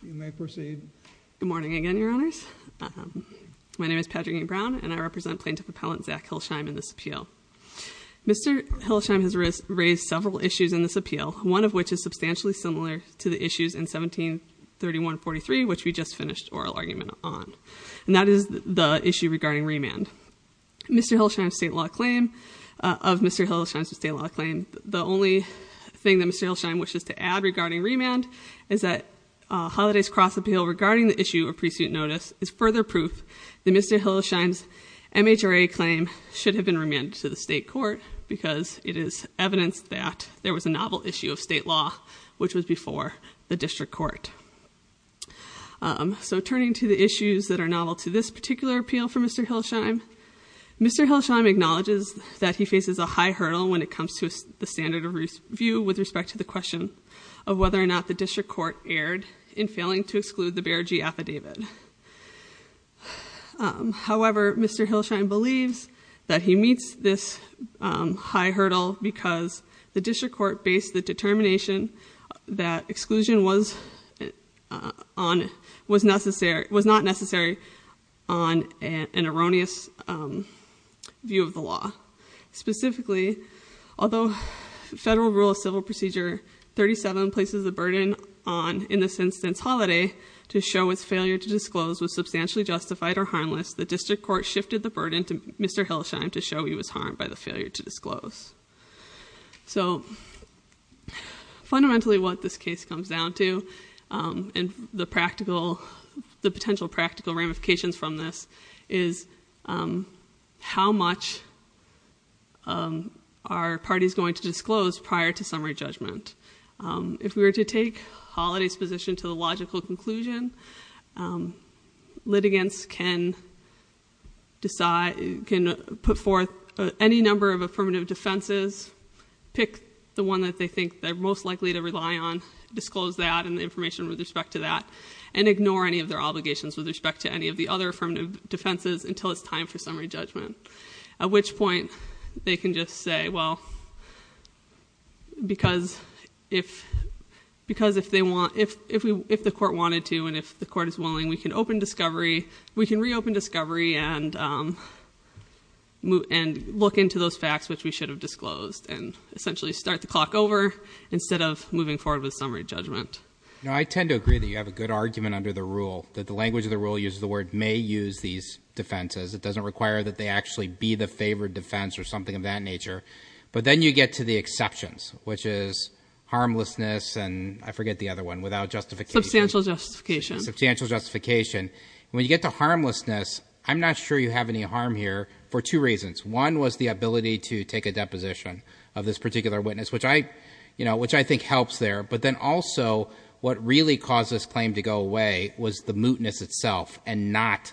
Good morning again, Your Honors. My name is Patrick E. Brown, and I represent Plaintiff Appellant Zach Hillesheim in this appeal. Mr. Hillesheim has raised several issues in this appeal, one of which is substantially similar to the issues in 1731-43, which we just finished oral argument on, and that is the issue regarding remand. Mr. Hillesheim's state law claim, of Mr. Hillesheim's state law claim, the only thing that Mr. Hillesheim wishes to add regarding remand is that Holiday's Cross Appeal regarding the issue of pre-suit notice is further proof that Mr. Hillesheim's MHRA claim should have been remanded to the state court because it is evidence that there was a novel issue of state law which was before the district court. So turning to the issues that are novel to this particular appeal for Mr. Hillesheim, Mr. Hillesheim acknowledges that he faces a high hurdle when it comes to the standard of review with respect to the question of whether or not the district court erred in failing to exclude the Bear G affidavit. However, Mr. Hillesheim believes that he meets this high hurdle because the district court based the determination that exclusion was not necessary on an erroneous view of the law. Specifically, although Federal Rule of Civil Procedure 37 places the burden on, in this instance, Holiday to show his failure to disclose was substantially justified or harmless, the district court shifted the burden to Mr. Hillesheim to show he was harmed by the failure to disclose. So fundamentally what this case comes down to, and the potential practical ramifications from this, is how much are parties going to disclose prior to summary judgment? If we were to take Holiday's position to the logical conclusion, litigants can put forth any number of affirmative defenses, pick the one that they think they're most likely to rely on, disclose that and the information with respect to that. And ignore any of their obligations with respect to any of the other affirmative defenses until it's time for summary judgment. At which point, they can just say, well, because if the court wanted to and if the court is willing, we can reopen discovery and look into those facts which we should have disclosed. And essentially start the clock over instead of moving forward with summary judgment. Now, I tend to agree that you have a good argument under the rule that the language of the rule uses the word may use these defenses. It doesn't require that they actually be the favored defense or something of that nature. But then you get to the exceptions, which is harmlessness and I forget the other one, without justification. Substantial justification. Substantial justification. When you get to harmlessness, I'm not sure you have any harm here for two reasons. One was the ability to take a deposition of this particular witness, which I think helps there. But then also, what really caused this claim to go away was the mootness itself and not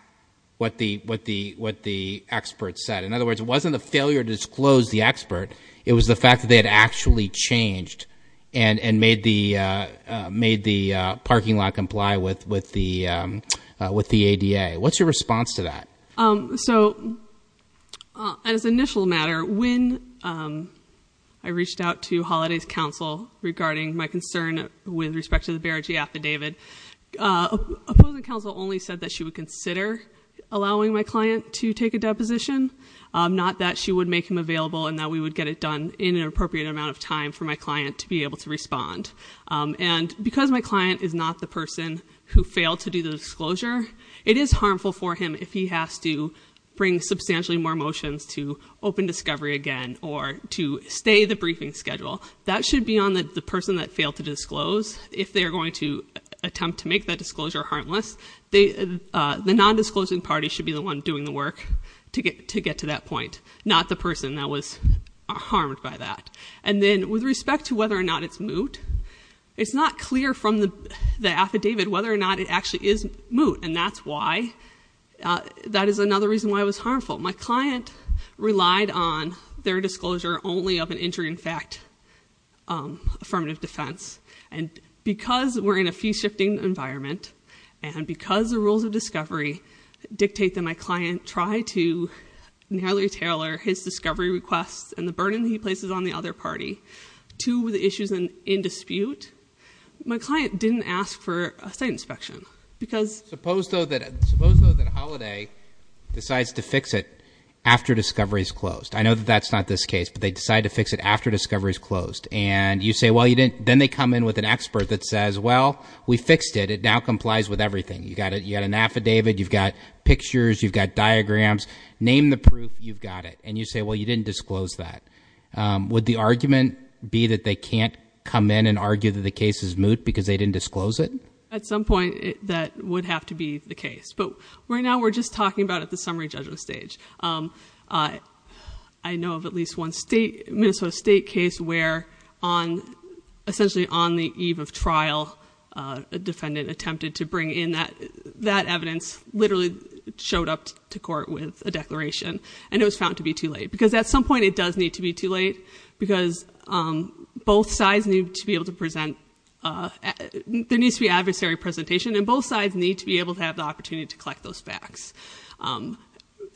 what the experts said. In other words, it wasn't a failure to disclose the expert. It was the fact that they had actually changed and made the parking lot comply with the ADA. What's your response to that? So, as an initial matter, when I reached out to Holiday's counsel regarding my concern with respect to the Bererji affidavit. Opposing counsel only said that she would consider allowing my client to take a deposition. Not that she would make him available and that we would get it done in an appropriate amount of time for my client to be able to respond. And because my client is not the person who failed to do the disclosure, it is harmful for him if he has to bring substantially more motions to open discovery again or to stay the briefing schedule. That should be on the person that failed to disclose, if they're going to attempt to make that disclosure harmless. The non-disclosing party should be the one doing the work to get to that point, not the person that was harmed by that. And then, with respect to whether or not it's moot, it's not clear from the affidavit whether or not it actually is moot, and that is another reason why it was harmful. My client relied on their disclosure only of an injury in fact affirmative defense. And because we're in a fee shifting environment, and because the rules of discovery dictate that my client try to narrowly tailor his discovery requests and the burden he places on the other party to the issues in dispute. My client didn't ask for a site inspection, because- Suppose though that Holiday decides to fix it after discovery's closed. I know that that's not this case, but they decide to fix it after discovery's closed. And you say, well, then they come in with an expert that says, well, we fixed it, it now complies with everything. You got an affidavit, you've got pictures, you've got diagrams, name the proof, you've got it. And you say, well, you didn't disclose that. Would the argument be that they can't come in and argue that the case is moot because they didn't disclose it? At some point, that would have to be the case. But right now, we're just talking about at the summary judgment stage. I know of at least one state, Minnesota state case where on, essentially on the eve of trial, a defendant attempted to bring in that evidence, literally showed up to court with a declaration, and it was found to be too late. Because at some point, it does need to be too late. Because both sides need to be able to present, there needs to be adversary presentation, and both sides need to be able to have the opportunity to collect those facts.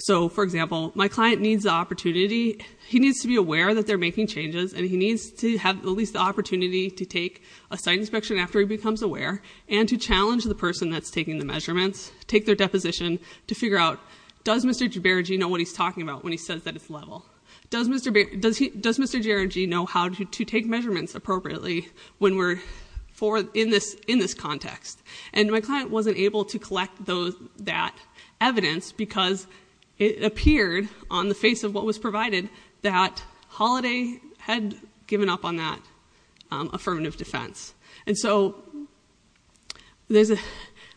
So, for example, my client needs the opportunity, he needs to be aware that they're making changes, and he needs to have at least the opportunity to take a site inspection after he becomes aware. And to challenge the person that's taking the measurements, take their deposition to figure out, does Mr. Geragy know what he's talking about when he says that it's level? Does Mr. Geragy know how to take measurements appropriately when we're in this context? And my client wasn't able to collect that evidence because it appeared on the face of what was provided that Holiday had given up on that affirmative defense. And so,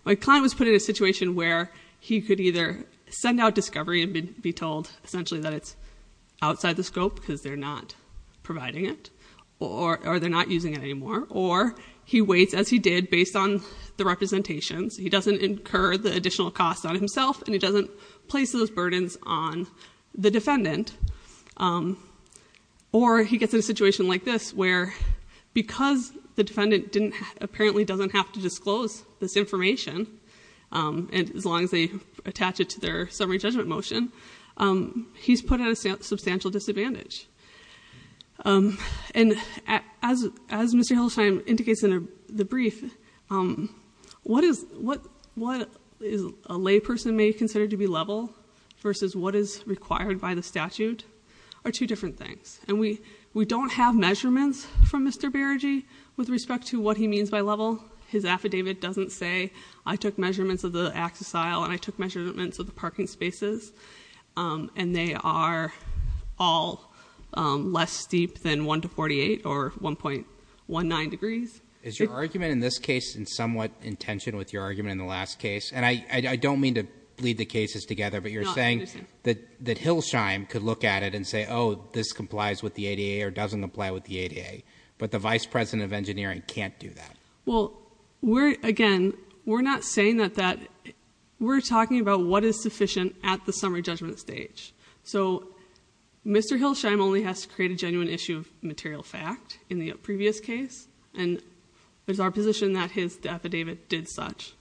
my client was put in a situation where he could either send out discovery and be told essentially that it's outside the scope because they're not providing it, or they're not using it anymore, or he waits as he did based on the representations. He doesn't incur the additional costs on himself, and he doesn't place those burdens on the defendant. Or he gets in a situation like this where, because the defendant apparently doesn't have to disclose this information, as long as they attach it to their summary judgment motion, he's put at a substantial disadvantage. And as Mr. Hillsheim indicates in the brief, what is a lay person may consider to be level versus what is required by the statute are two different things. And we don't have measurements from Mr. Beragy with respect to what he means by level. His affidavit doesn't say, I took measurements of the access aisle, and I took measurements of the parking spaces, and they are all less steep than 1 to 48 or 1.19 degrees. Is your argument in this case somewhat in tension with your argument in the last case? And I don't mean to bleed the cases together, but you're saying that Hillsheim could look at it and say, oh, this complies with the ADA or doesn't apply with the ADA. But the vice president of engineering can't do that. Well, again, we're not saying that. We're talking about what is sufficient at the summary judgment stage. So Mr. Hillsheim only has to create a genuine issue of material fact in the previous case, and there's our position that his affidavit did such.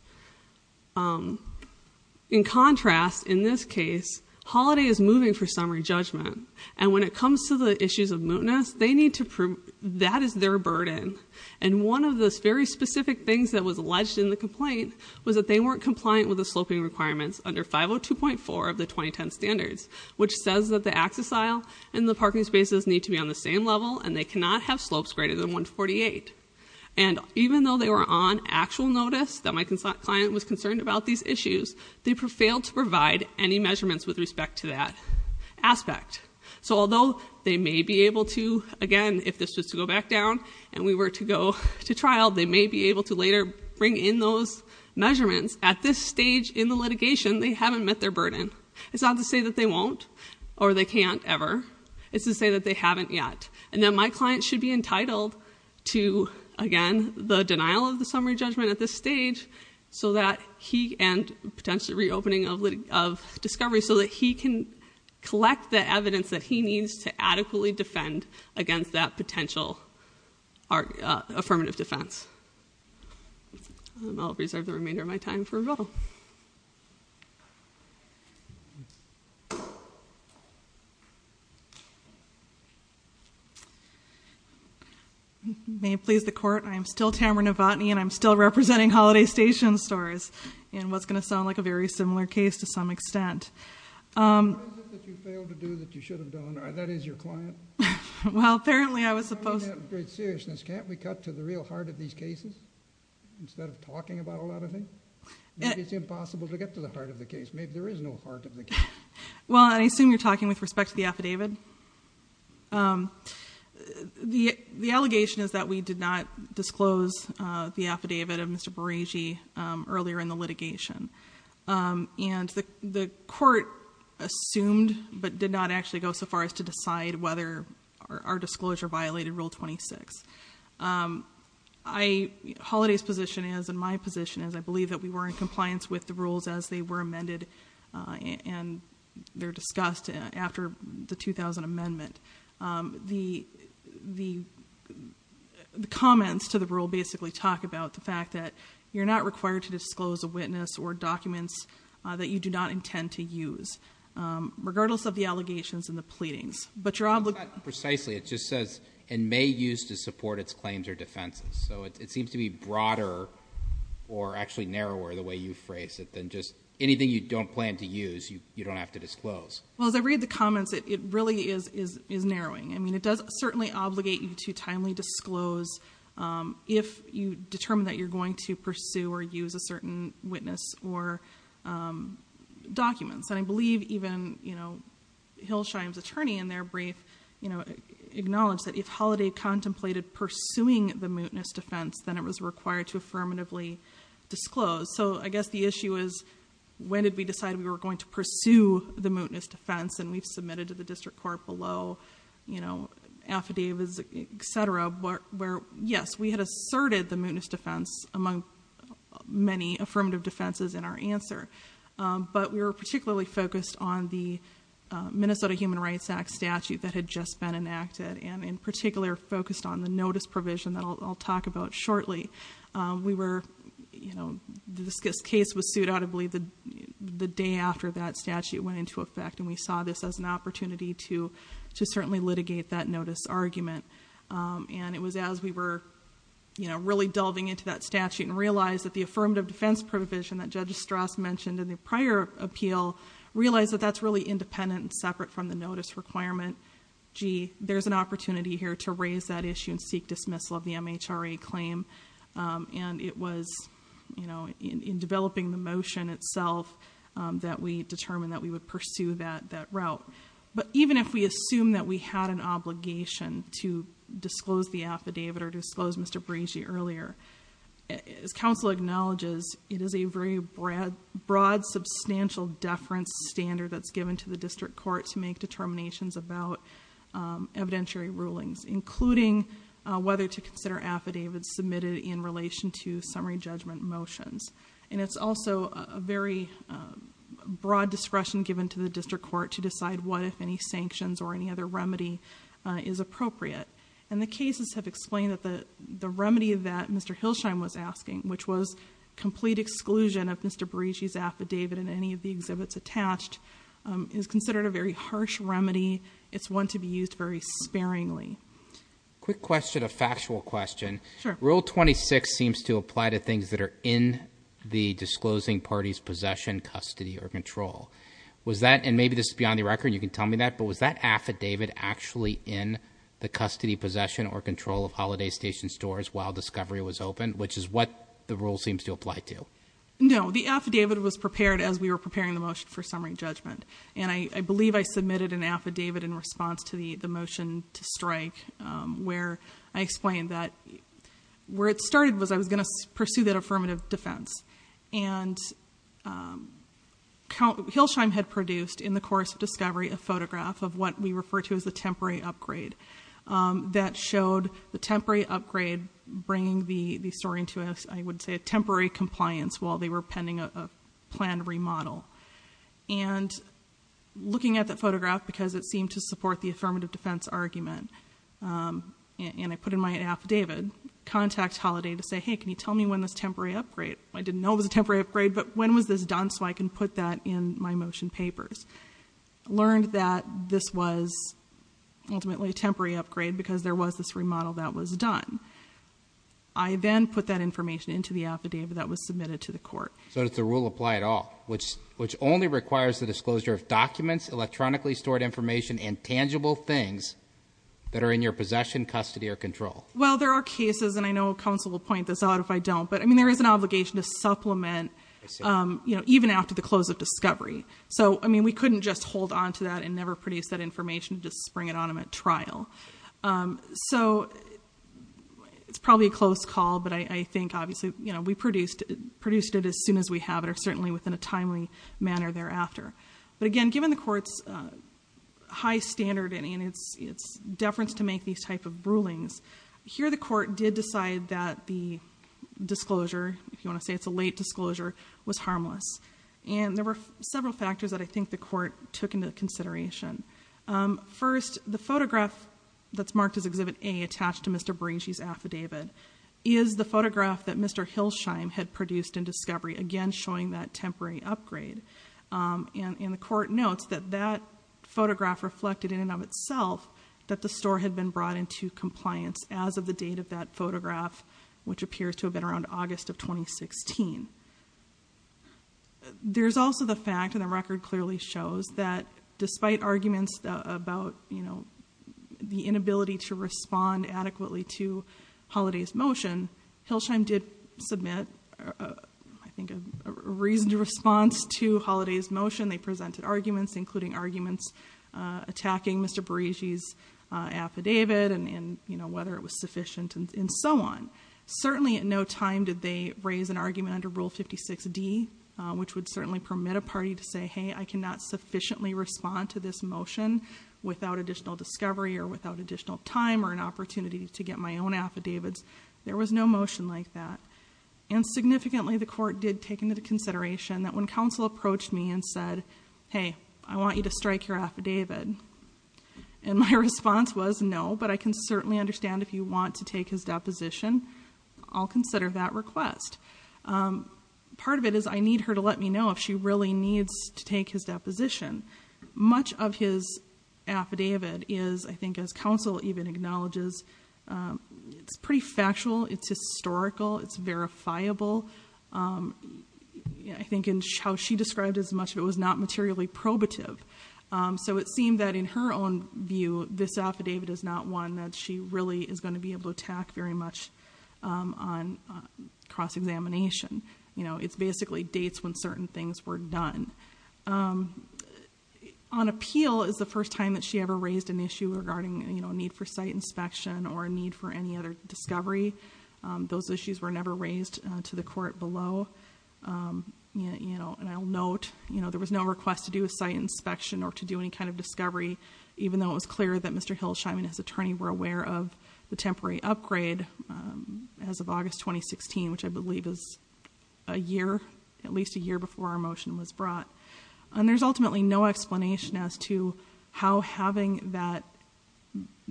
In contrast, in this case, Holiday is moving for summary judgment. And when it comes to the issues of mootness, that is their burden. And one of the very specific things that was alleged in the complaint was that they weren't compliant with the sloping requirements under 502.4 of the 2010 standards, which says that the access aisle and the parking spaces need to be on the same level, and they cannot have slopes greater than 1 to 48. And even though they were on actual notice that my client was concerned about these issues, they failed to provide any measurements with respect to that aspect. So although they may be able to, again, if this was to go back down and we were to go to trial, they may be able to later bring in those measurements. At this stage in the litigation, they haven't met their burden. It's not to say that they won't or they can't ever. It's to say that they haven't yet. And that my client should be entitled to, again, the denial of the summary judgment at this stage, so that he, and potentially reopening of discovery, so that he can collect the evidence that he needs to adequately defend against that potential affirmative defense. I'll reserve the remainder of my time for a vote. May it please the court, I am still Tamara Novotny, and I'm still representing Holiday Station stores in what's going to sound like a very similar case to some extent. What is it that you failed to do that you should have done, and that is your client? Well, apparently I was supposed to- In all seriousness, can't we cut to the real heart of these cases, instead of talking about a lot of things? It's impossible to get to the heart of the case. Maybe there is no heart of the case. Well, I assume you're talking with respect to the affidavit. The allegation is that we did not disclose the affidavit of Mr. Bereji earlier in the litigation. And the court assumed, but did not actually go so far as to decide whether our disclosure violated Rule 26. Holiday's position is, and my position is, I believe that we were in compliance with the rules as they were amended. And they're discussed after the 2000 amendment. The comments to the rule basically talk about the fact that you're not required to disclose a witness or documents that you do not intend to use. Regardless of the allegations and the pleadings. But you're obligated- Precisely. It just says, and may use to support its claims or defenses. So it seems to be broader, or actually narrower the way you phrase it, than just anything you don't plan to use, you don't have to disclose. Well, as I read the comments, it really is narrowing. I mean, it does certainly obligate you to timely disclose if you determine that you're going to pursue or use a certain witness or documents. And I believe even Hillshine's attorney in their brief acknowledged that if Holiday contemplated pursuing the mootness defense, then it was required to affirmatively disclose. So I guess the issue is, when did we decide we were going to pursue the mootness defense? And we've submitted to the district court below affidavits, etc. Where yes, we had asserted the mootness defense among many affirmative defenses in our answer. But we were particularly focused on the Minnesota Human Rights Act statute that had just been enacted. And in particular, focused on the notice provision that I'll talk about shortly. We were, this case was sued out, I believe, the day after that statute went into effect. And we saw this as an opportunity to certainly litigate that notice argument. And it was as we were really delving into that statute and realized that the affirmative defense provision that Judge Strass mentioned in the prior appeal, realized that that's really independent and separate from the notice requirement. Gee, there's an opportunity here to raise that issue and seek dismissal of the MHRA claim. And it was in developing the motion itself that we determined that we would pursue that route. But even if we assume that we had an obligation to disclose the affidavit or to disclose Mr. Breezy earlier, as council acknowledges, it is a very broad, substantial deference standard that's given to the district court to make determinations about evidentiary rulings. Including whether to consider affidavits submitted in relation to summary judgment motions. And it's also a very broad discretion given to the district court to decide what, if any, sanctions or any other remedy is appropriate. And the cases have explained that the remedy that Mr. Hillsheim was asking, which was complete exclusion of Mr. Breezy's affidavit in any of the exhibits attached, is considered a very harsh remedy, it's one to be used very sparingly. Quick question, a factual question. Sure. Rule 26 seems to apply to things that are in the disclosing party's possession, custody, or control. Was that, and maybe this is beyond the record, you can tell me that, but was that affidavit actually in the custody, possession, or control of Holiday Station stores while discovery was open, which is what the rule seems to apply to? No, the affidavit was prepared as we were preparing the motion for summary judgment. And I believe I submitted an affidavit in response to the motion to strike where I explained that where it started was I was going to pursue that affirmative defense. And Hillsheim had produced in the course of discovery a photograph of what we refer to as a temporary upgrade. That showed the temporary upgrade bringing the story into, I would say, a temporary compliance while they were pending a planned remodel. And looking at that photograph, because it seemed to support the affirmative defense argument, and I put in my affidavit, contact Holiday to say, hey, can you tell me when this temporary upgrade? I didn't know it was a temporary upgrade, but when was this done so I can put that in my motion papers? Learned that this was ultimately a temporary upgrade because there was this remodel that was done. I then put that information into the affidavit that was submitted to the court. So does the rule apply at all, which only requires the disclosure of documents, electronically stored information, and tangible things that are in your possession, custody, or control? Well, there are cases, and I know counsel will point this out if I don't, but I mean, there is an obligation to supplement even after the close of discovery. So, I mean, we couldn't just hold on to that and never produce that information, just spring it on them at trial. So, it's probably a close call, but I think obviously we produced it as soon as we have it or certainly within a timely manner thereafter. But again, given the court's high standard and its deference to make these type of rulings, here the court did decide that the disclosure, if you want to say it's a late disclosure, was harmless. And there were several factors that I think the court took into consideration. First, the photograph that's marked as exhibit A attached to Mr. Bracey's affidavit is the photograph that Mr. Hilsheim had produced in discovery, again showing that temporary upgrade. And the court notes that that photograph reflected in and of itself that the store had been brought into compliance as of the date of that photograph, which appears to have been around August of 2016. There's also the fact, and the record clearly shows, that despite arguments about the inability to respond adequately to Holliday's motion, Hilsheim did submit, I think, a reasoned response to Holliday's motion. They presented arguments, including arguments attacking Mr. Bracey's affidavit and whether it was sufficient and so on. Certainly, at no time did they raise an argument under Rule 56D, which would certainly permit a party to say, hey, I cannot sufficiently respond to this motion without additional discovery or without additional time or an opportunity to get my own affidavits, there was no motion like that. And significantly, the court did take into consideration that when counsel approached me and said, hey, I want you to strike your affidavit, and my response was no, but I can certainly understand if you want to take his deposition, I'll consider that request. Part of it is, I need her to let me know if she really needs to take his deposition. Much of his affidavit is, I think as counsel even acknowledges, it's pretty factual, it's historical, it's verifiable. I think in how she described it, as much of it was not materially probative. So it seemed that in her own view, this affidavit is not one that she really is going to be able to attack very much on cross-examination. It's basically dates when certain things were done. On appeal is the first time that she ever raised an issue regarding a need for site inspection or a need for any other discovery. Those issues were never raised to the court below. And I'll note, there was no request to do a site inspection or to do any kind of discovery, even though it was clear that Mr. Hill, Scheinman, his attorney, were aware of the temporary upgrade as of August 2016, which I believe is a year, at least a year before our motion was brought. And there's ultimately no explanation as to how having that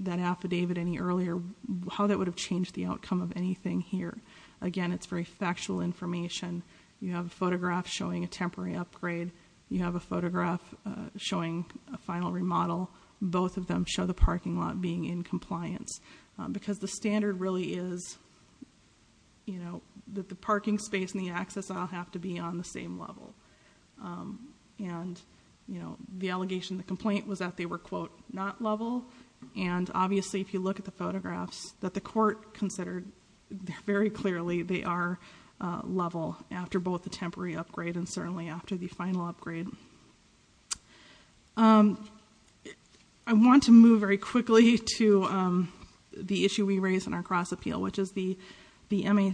affidavit any earlier, how that would have changed the outcome of anything here. Again, it's very factual information. You have a photograph showing a temporary upgrade. You have a photograph showing a final remodel. Both of them show the parking lot being in compliance. Because the standard really is that the parking space and the access all have to be on the same level. And the allegation, the complaint was that they were quote, not level. And obviously, if you look at the photographs that the court considered, very clearly, they are level after both the temporary upgrade and certainly after the final upgrade. I want to move very quickly to the issue we raised in our cross appeal, which is the MHRA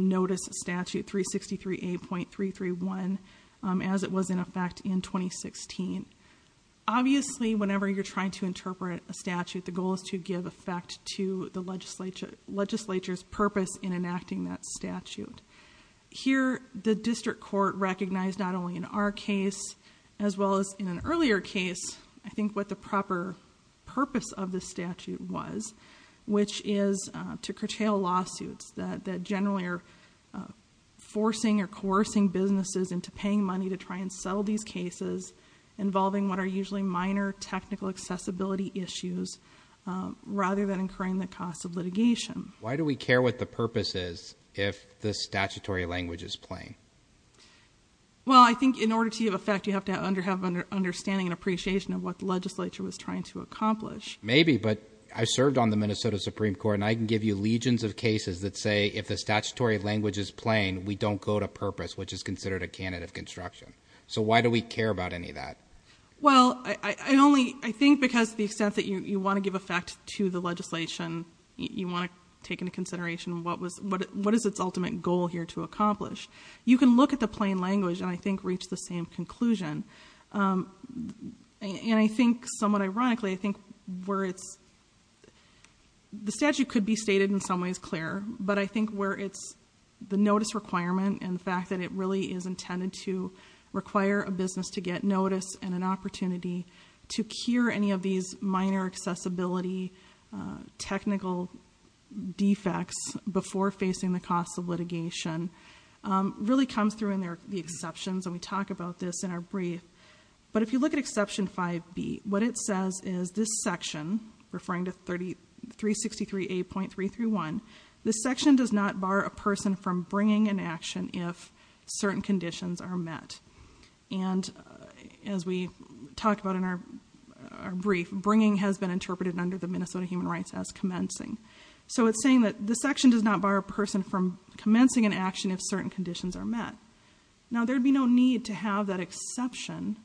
Notice Statute 363A.331 as it was in effect in 2016. Obviously, whenever you're trying to interpret a statute, the goal is to give effect to the legislature's purpose in enacting that statute. Here, the district court recognized not only in our case, as well as in an earlier case, I think what the proper purpose of the statute was, which is to curtail lawsuits that generally are forcing or coercing businesses into paying money to try and settle these cases involving what are usually minor technical accessibility issues. Rather than incurring the cost of litigation. Why do we care what the purpose is if the statutory language is plain? Well, I think in order to have effect, you have to have understanding and appreciation of what the legislature was trying to accomplish. Maybe, but I served on the Minnesota Supreme Court and I can give you legions of cases that say, if the statutory language is plain, we don't go to purpose, which is considered a candidate of construction. So why do we care about any of that? Well, I think because the extent that you want to give effect to the legislation, you want to take into consideration what is its ultimate goal here to accomplish. You can look at the plain language and I think reach the same conclusion. And I think somewhat ironically, I think where it's, the statute could be stated in some ways clear. But I think where it's the notice requirement and the fact that it really is intended to require a business to get notice and an opportunity to cure any of these minor accessibility, technical defects before facing the cost of litigation. Really comes through in the exceptions and we talk about this in our brief. But if you look at exception 5B, what it says is this section, referring to 363A.331. This section does not bar a person from bringing an action if certain conditions are met. And as we talked about in our brief, bringing has been interpreted under the Minnesota Human Rights Act as commencing. So it's saying that the section does not bar a person from commencing an action if certain conditions are met. Now, there'd be no need to have that exception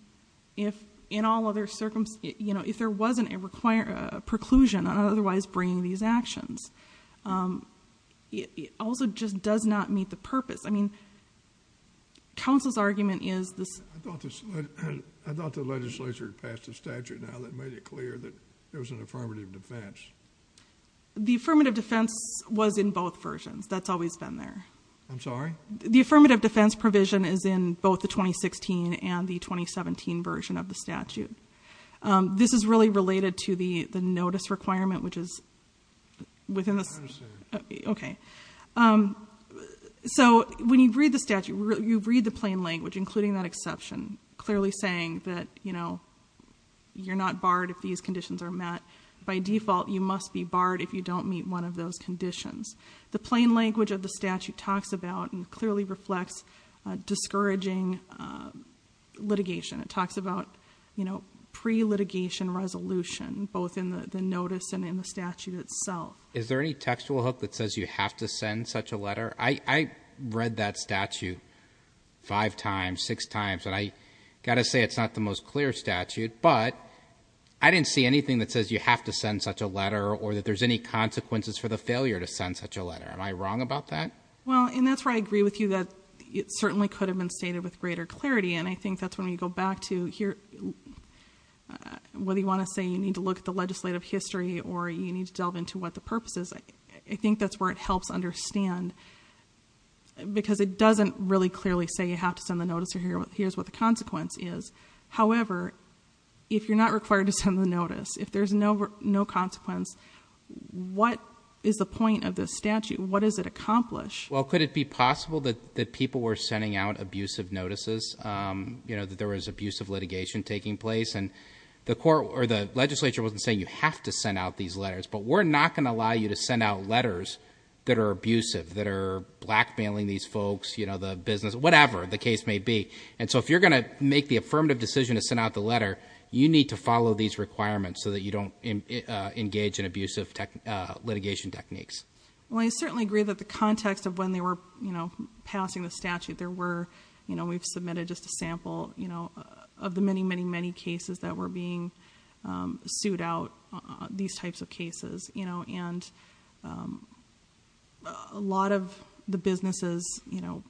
if in all other circumstances, if there wasn't a preclusion on otherwise bringing these actions. It also just does not meet the purpose. I mean, counsel's argument is this- I thought the legislature passed a statute now that made it clear that there was an affirmative defense. The affirmative defense was in both versions. That's always been there. I'm sorry? The affirmative defense provision is in both the 2016 and the 2017 version of the statute. This is really related to the notice requirement, which is within the- I understand. Okay. So when you read the statute, you read the plain language, including that exception, clearly saying that you're not barred if these conditions are met. By default, you must be barred if you don't meet one of those conditions. The plain language of the statute talks about and clearly reflects discouraging litigation. It talks about pre-litigation resolution, both in the notice and in the statute itself. Is there any textual hook that says you have to send such a letter? I read that statute five times, six times, and I got to say it's not the most clear statute. But I didn't see anything that says you have to send such a letter or that there's any consequences for the failure to send such a letter. Am I wrong about that? Well, and that's where I agree with you that it certainly could have been stated with greater clarity. And I think that's when we go back to whether you want to say you need to look at the legislative history or you need to delve into what the purpose is, I think that's where it helps understand. Because it doesn't really clearly say you have to send the notice or here's what the consequence is. However, if you're not required to send the notice, if there's no consequence, what is the point of this statute? What does it accomplish? Well, could it be possible that people were sending out abusive notices, that there was abusive litigation taking place? And the legislature wasn't saying you have to send out these letters, but we're not going to allow you to send out letters that are abusive, that are blackmailing these folks, the business, whatever the case may be. And so if you're going to make the affirmative decision to send out the letter, you need to follow these requirements so that you don't engage in abusive litigation techniques. Well, I certainly agree that the context of when they were passing the statute, there were, we've submitted just a sample of the many, many, many cases that were being sued out, these types of cases. And a lot of the businesses, I'm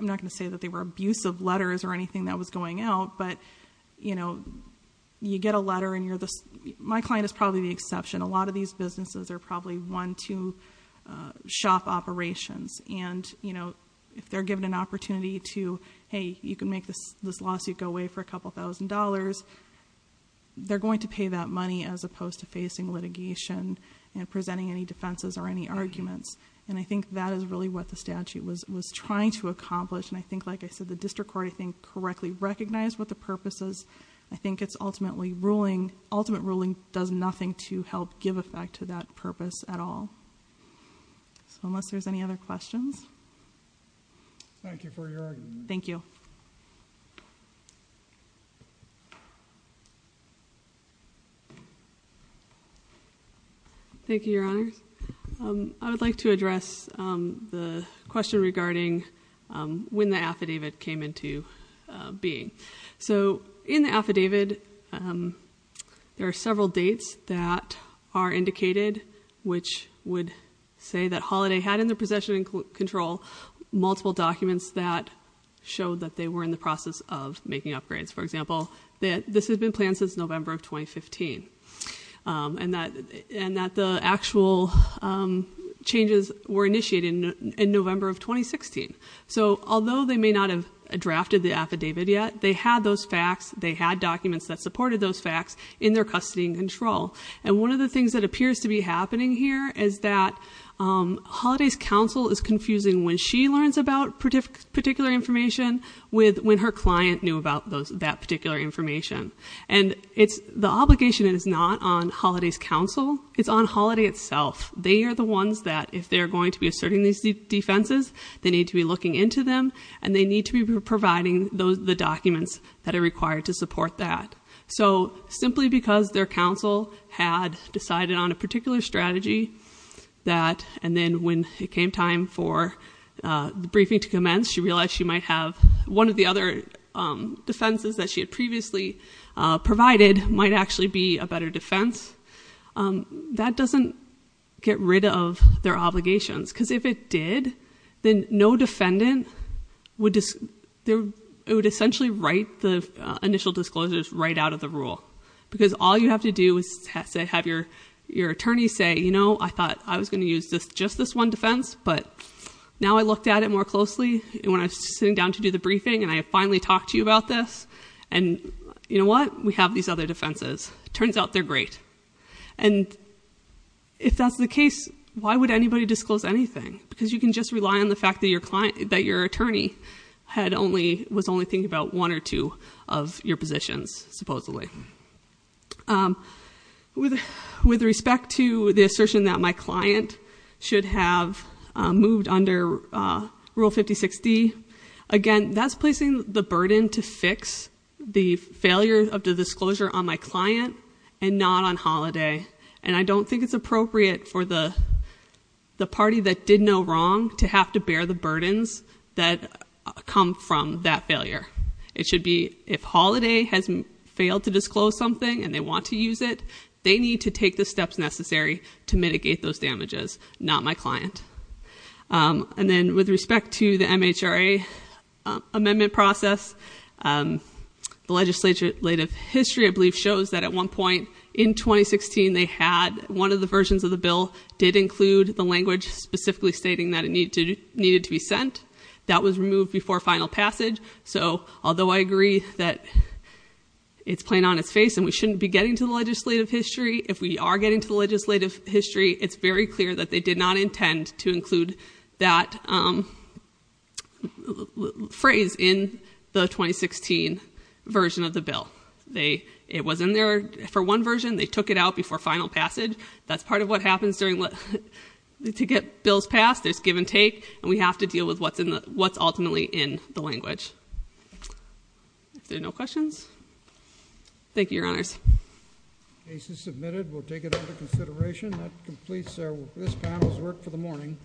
not going to say that they were abusive letters or anything that was going out, but you get a letter and my client is probably the exception. A lot of these businesses are probably one, two shop operations. And if they're given an opportunity to, hey, you can make this lawsuit go away for a couple thousand dollars. They're going to pay that money as opposed to facing litigation and presenting any defenses or any arguments. And I think that is really what the statute was trying to accomplish. And I think, like I said, the district court, I think, correctly recognized what the purpose is. I think it's ultimately ruling, ultimate ruling does nothing to help give effect to that purpose at all. So unless there's any other questions. Thank you for your argument. Thank you. Thank you, your honor. I would like to address the question regarding when the affidavit came into being. So in the affidavit, there are several dates that are indicated, which would say that Holiday had in their possession and control multiple documents that showed that they were in the process of making upgrades. For example, this has been planned since November of 2015, and that the actual changes were initiated in November of 2016. So although they may not have drafted the affidavit yet, they had those facts. They had documents that supported those facts in their custody and control. And one of the things that appears to be happening here is that Holiday's counsel is confusing when she learns about particular information with when her client knew about that particular information. And the obligation is not on Holiday's counsel, it's on Holiday itself. They are the ones that, if they're going to be asserting these defenses, they need to be looking into them. And they need to be providing the documents that are required to support that. So simply because their counsel had decided on a particular strategy that, and then when it came time for the briefing to commence, she realized she might have one of the other defenses that she had previously provided might actually be a better defense. That doesn't get rid of their obligations, because if it did, then no defendant would essentially write the initial disclosures right out of the rule. Because all you have to do is have your attorney say, I thought I was going to use just this one defense, but now I looked at it more closely when I was sitting down to do the briefing, and I finally talked to you about this. And you know what? We have these other defenses. Turns out they're great. And if that's the case, why would anybody disclose anything? Because you can just rely on the fact that your attorney was only thinking about one or two of your positions, supposedly. With respect to the assertion that my client should have moved under rule 5060. Again, that's placing the burden to fix the failure of the disclosure on my client and not on holiday. And I don't think it's appropriate for the party that did no wrong to have to bear the burdens that come from that failure. It should be, if holiday has failed to disclose something and they want to use it, they need to take the steps necessary to mitigate those damages, not my client. And then with respect to the MHRA amendment process, the legislative history I believe shows that at one point in 2016, they had one of the versions of the bill did include the language specifically stating that it needed to be sent. That was removed before final passage. So, although I agree that it's plain on its face and we shouldn't be getting to the legislative history. If we are getting to the legislative history, it's very clear that they did not intend to include that phrase in the 2016 version of the bill. It was in there for one version, they took it out before final passage. That's part of what happens to get bills passed, there's give and take, and we have to deal with what's ultimately in the language. If there are no questions, thank you, your honors. Case is submitted, we'll take it under consideration. That completes this panel's work for the morning.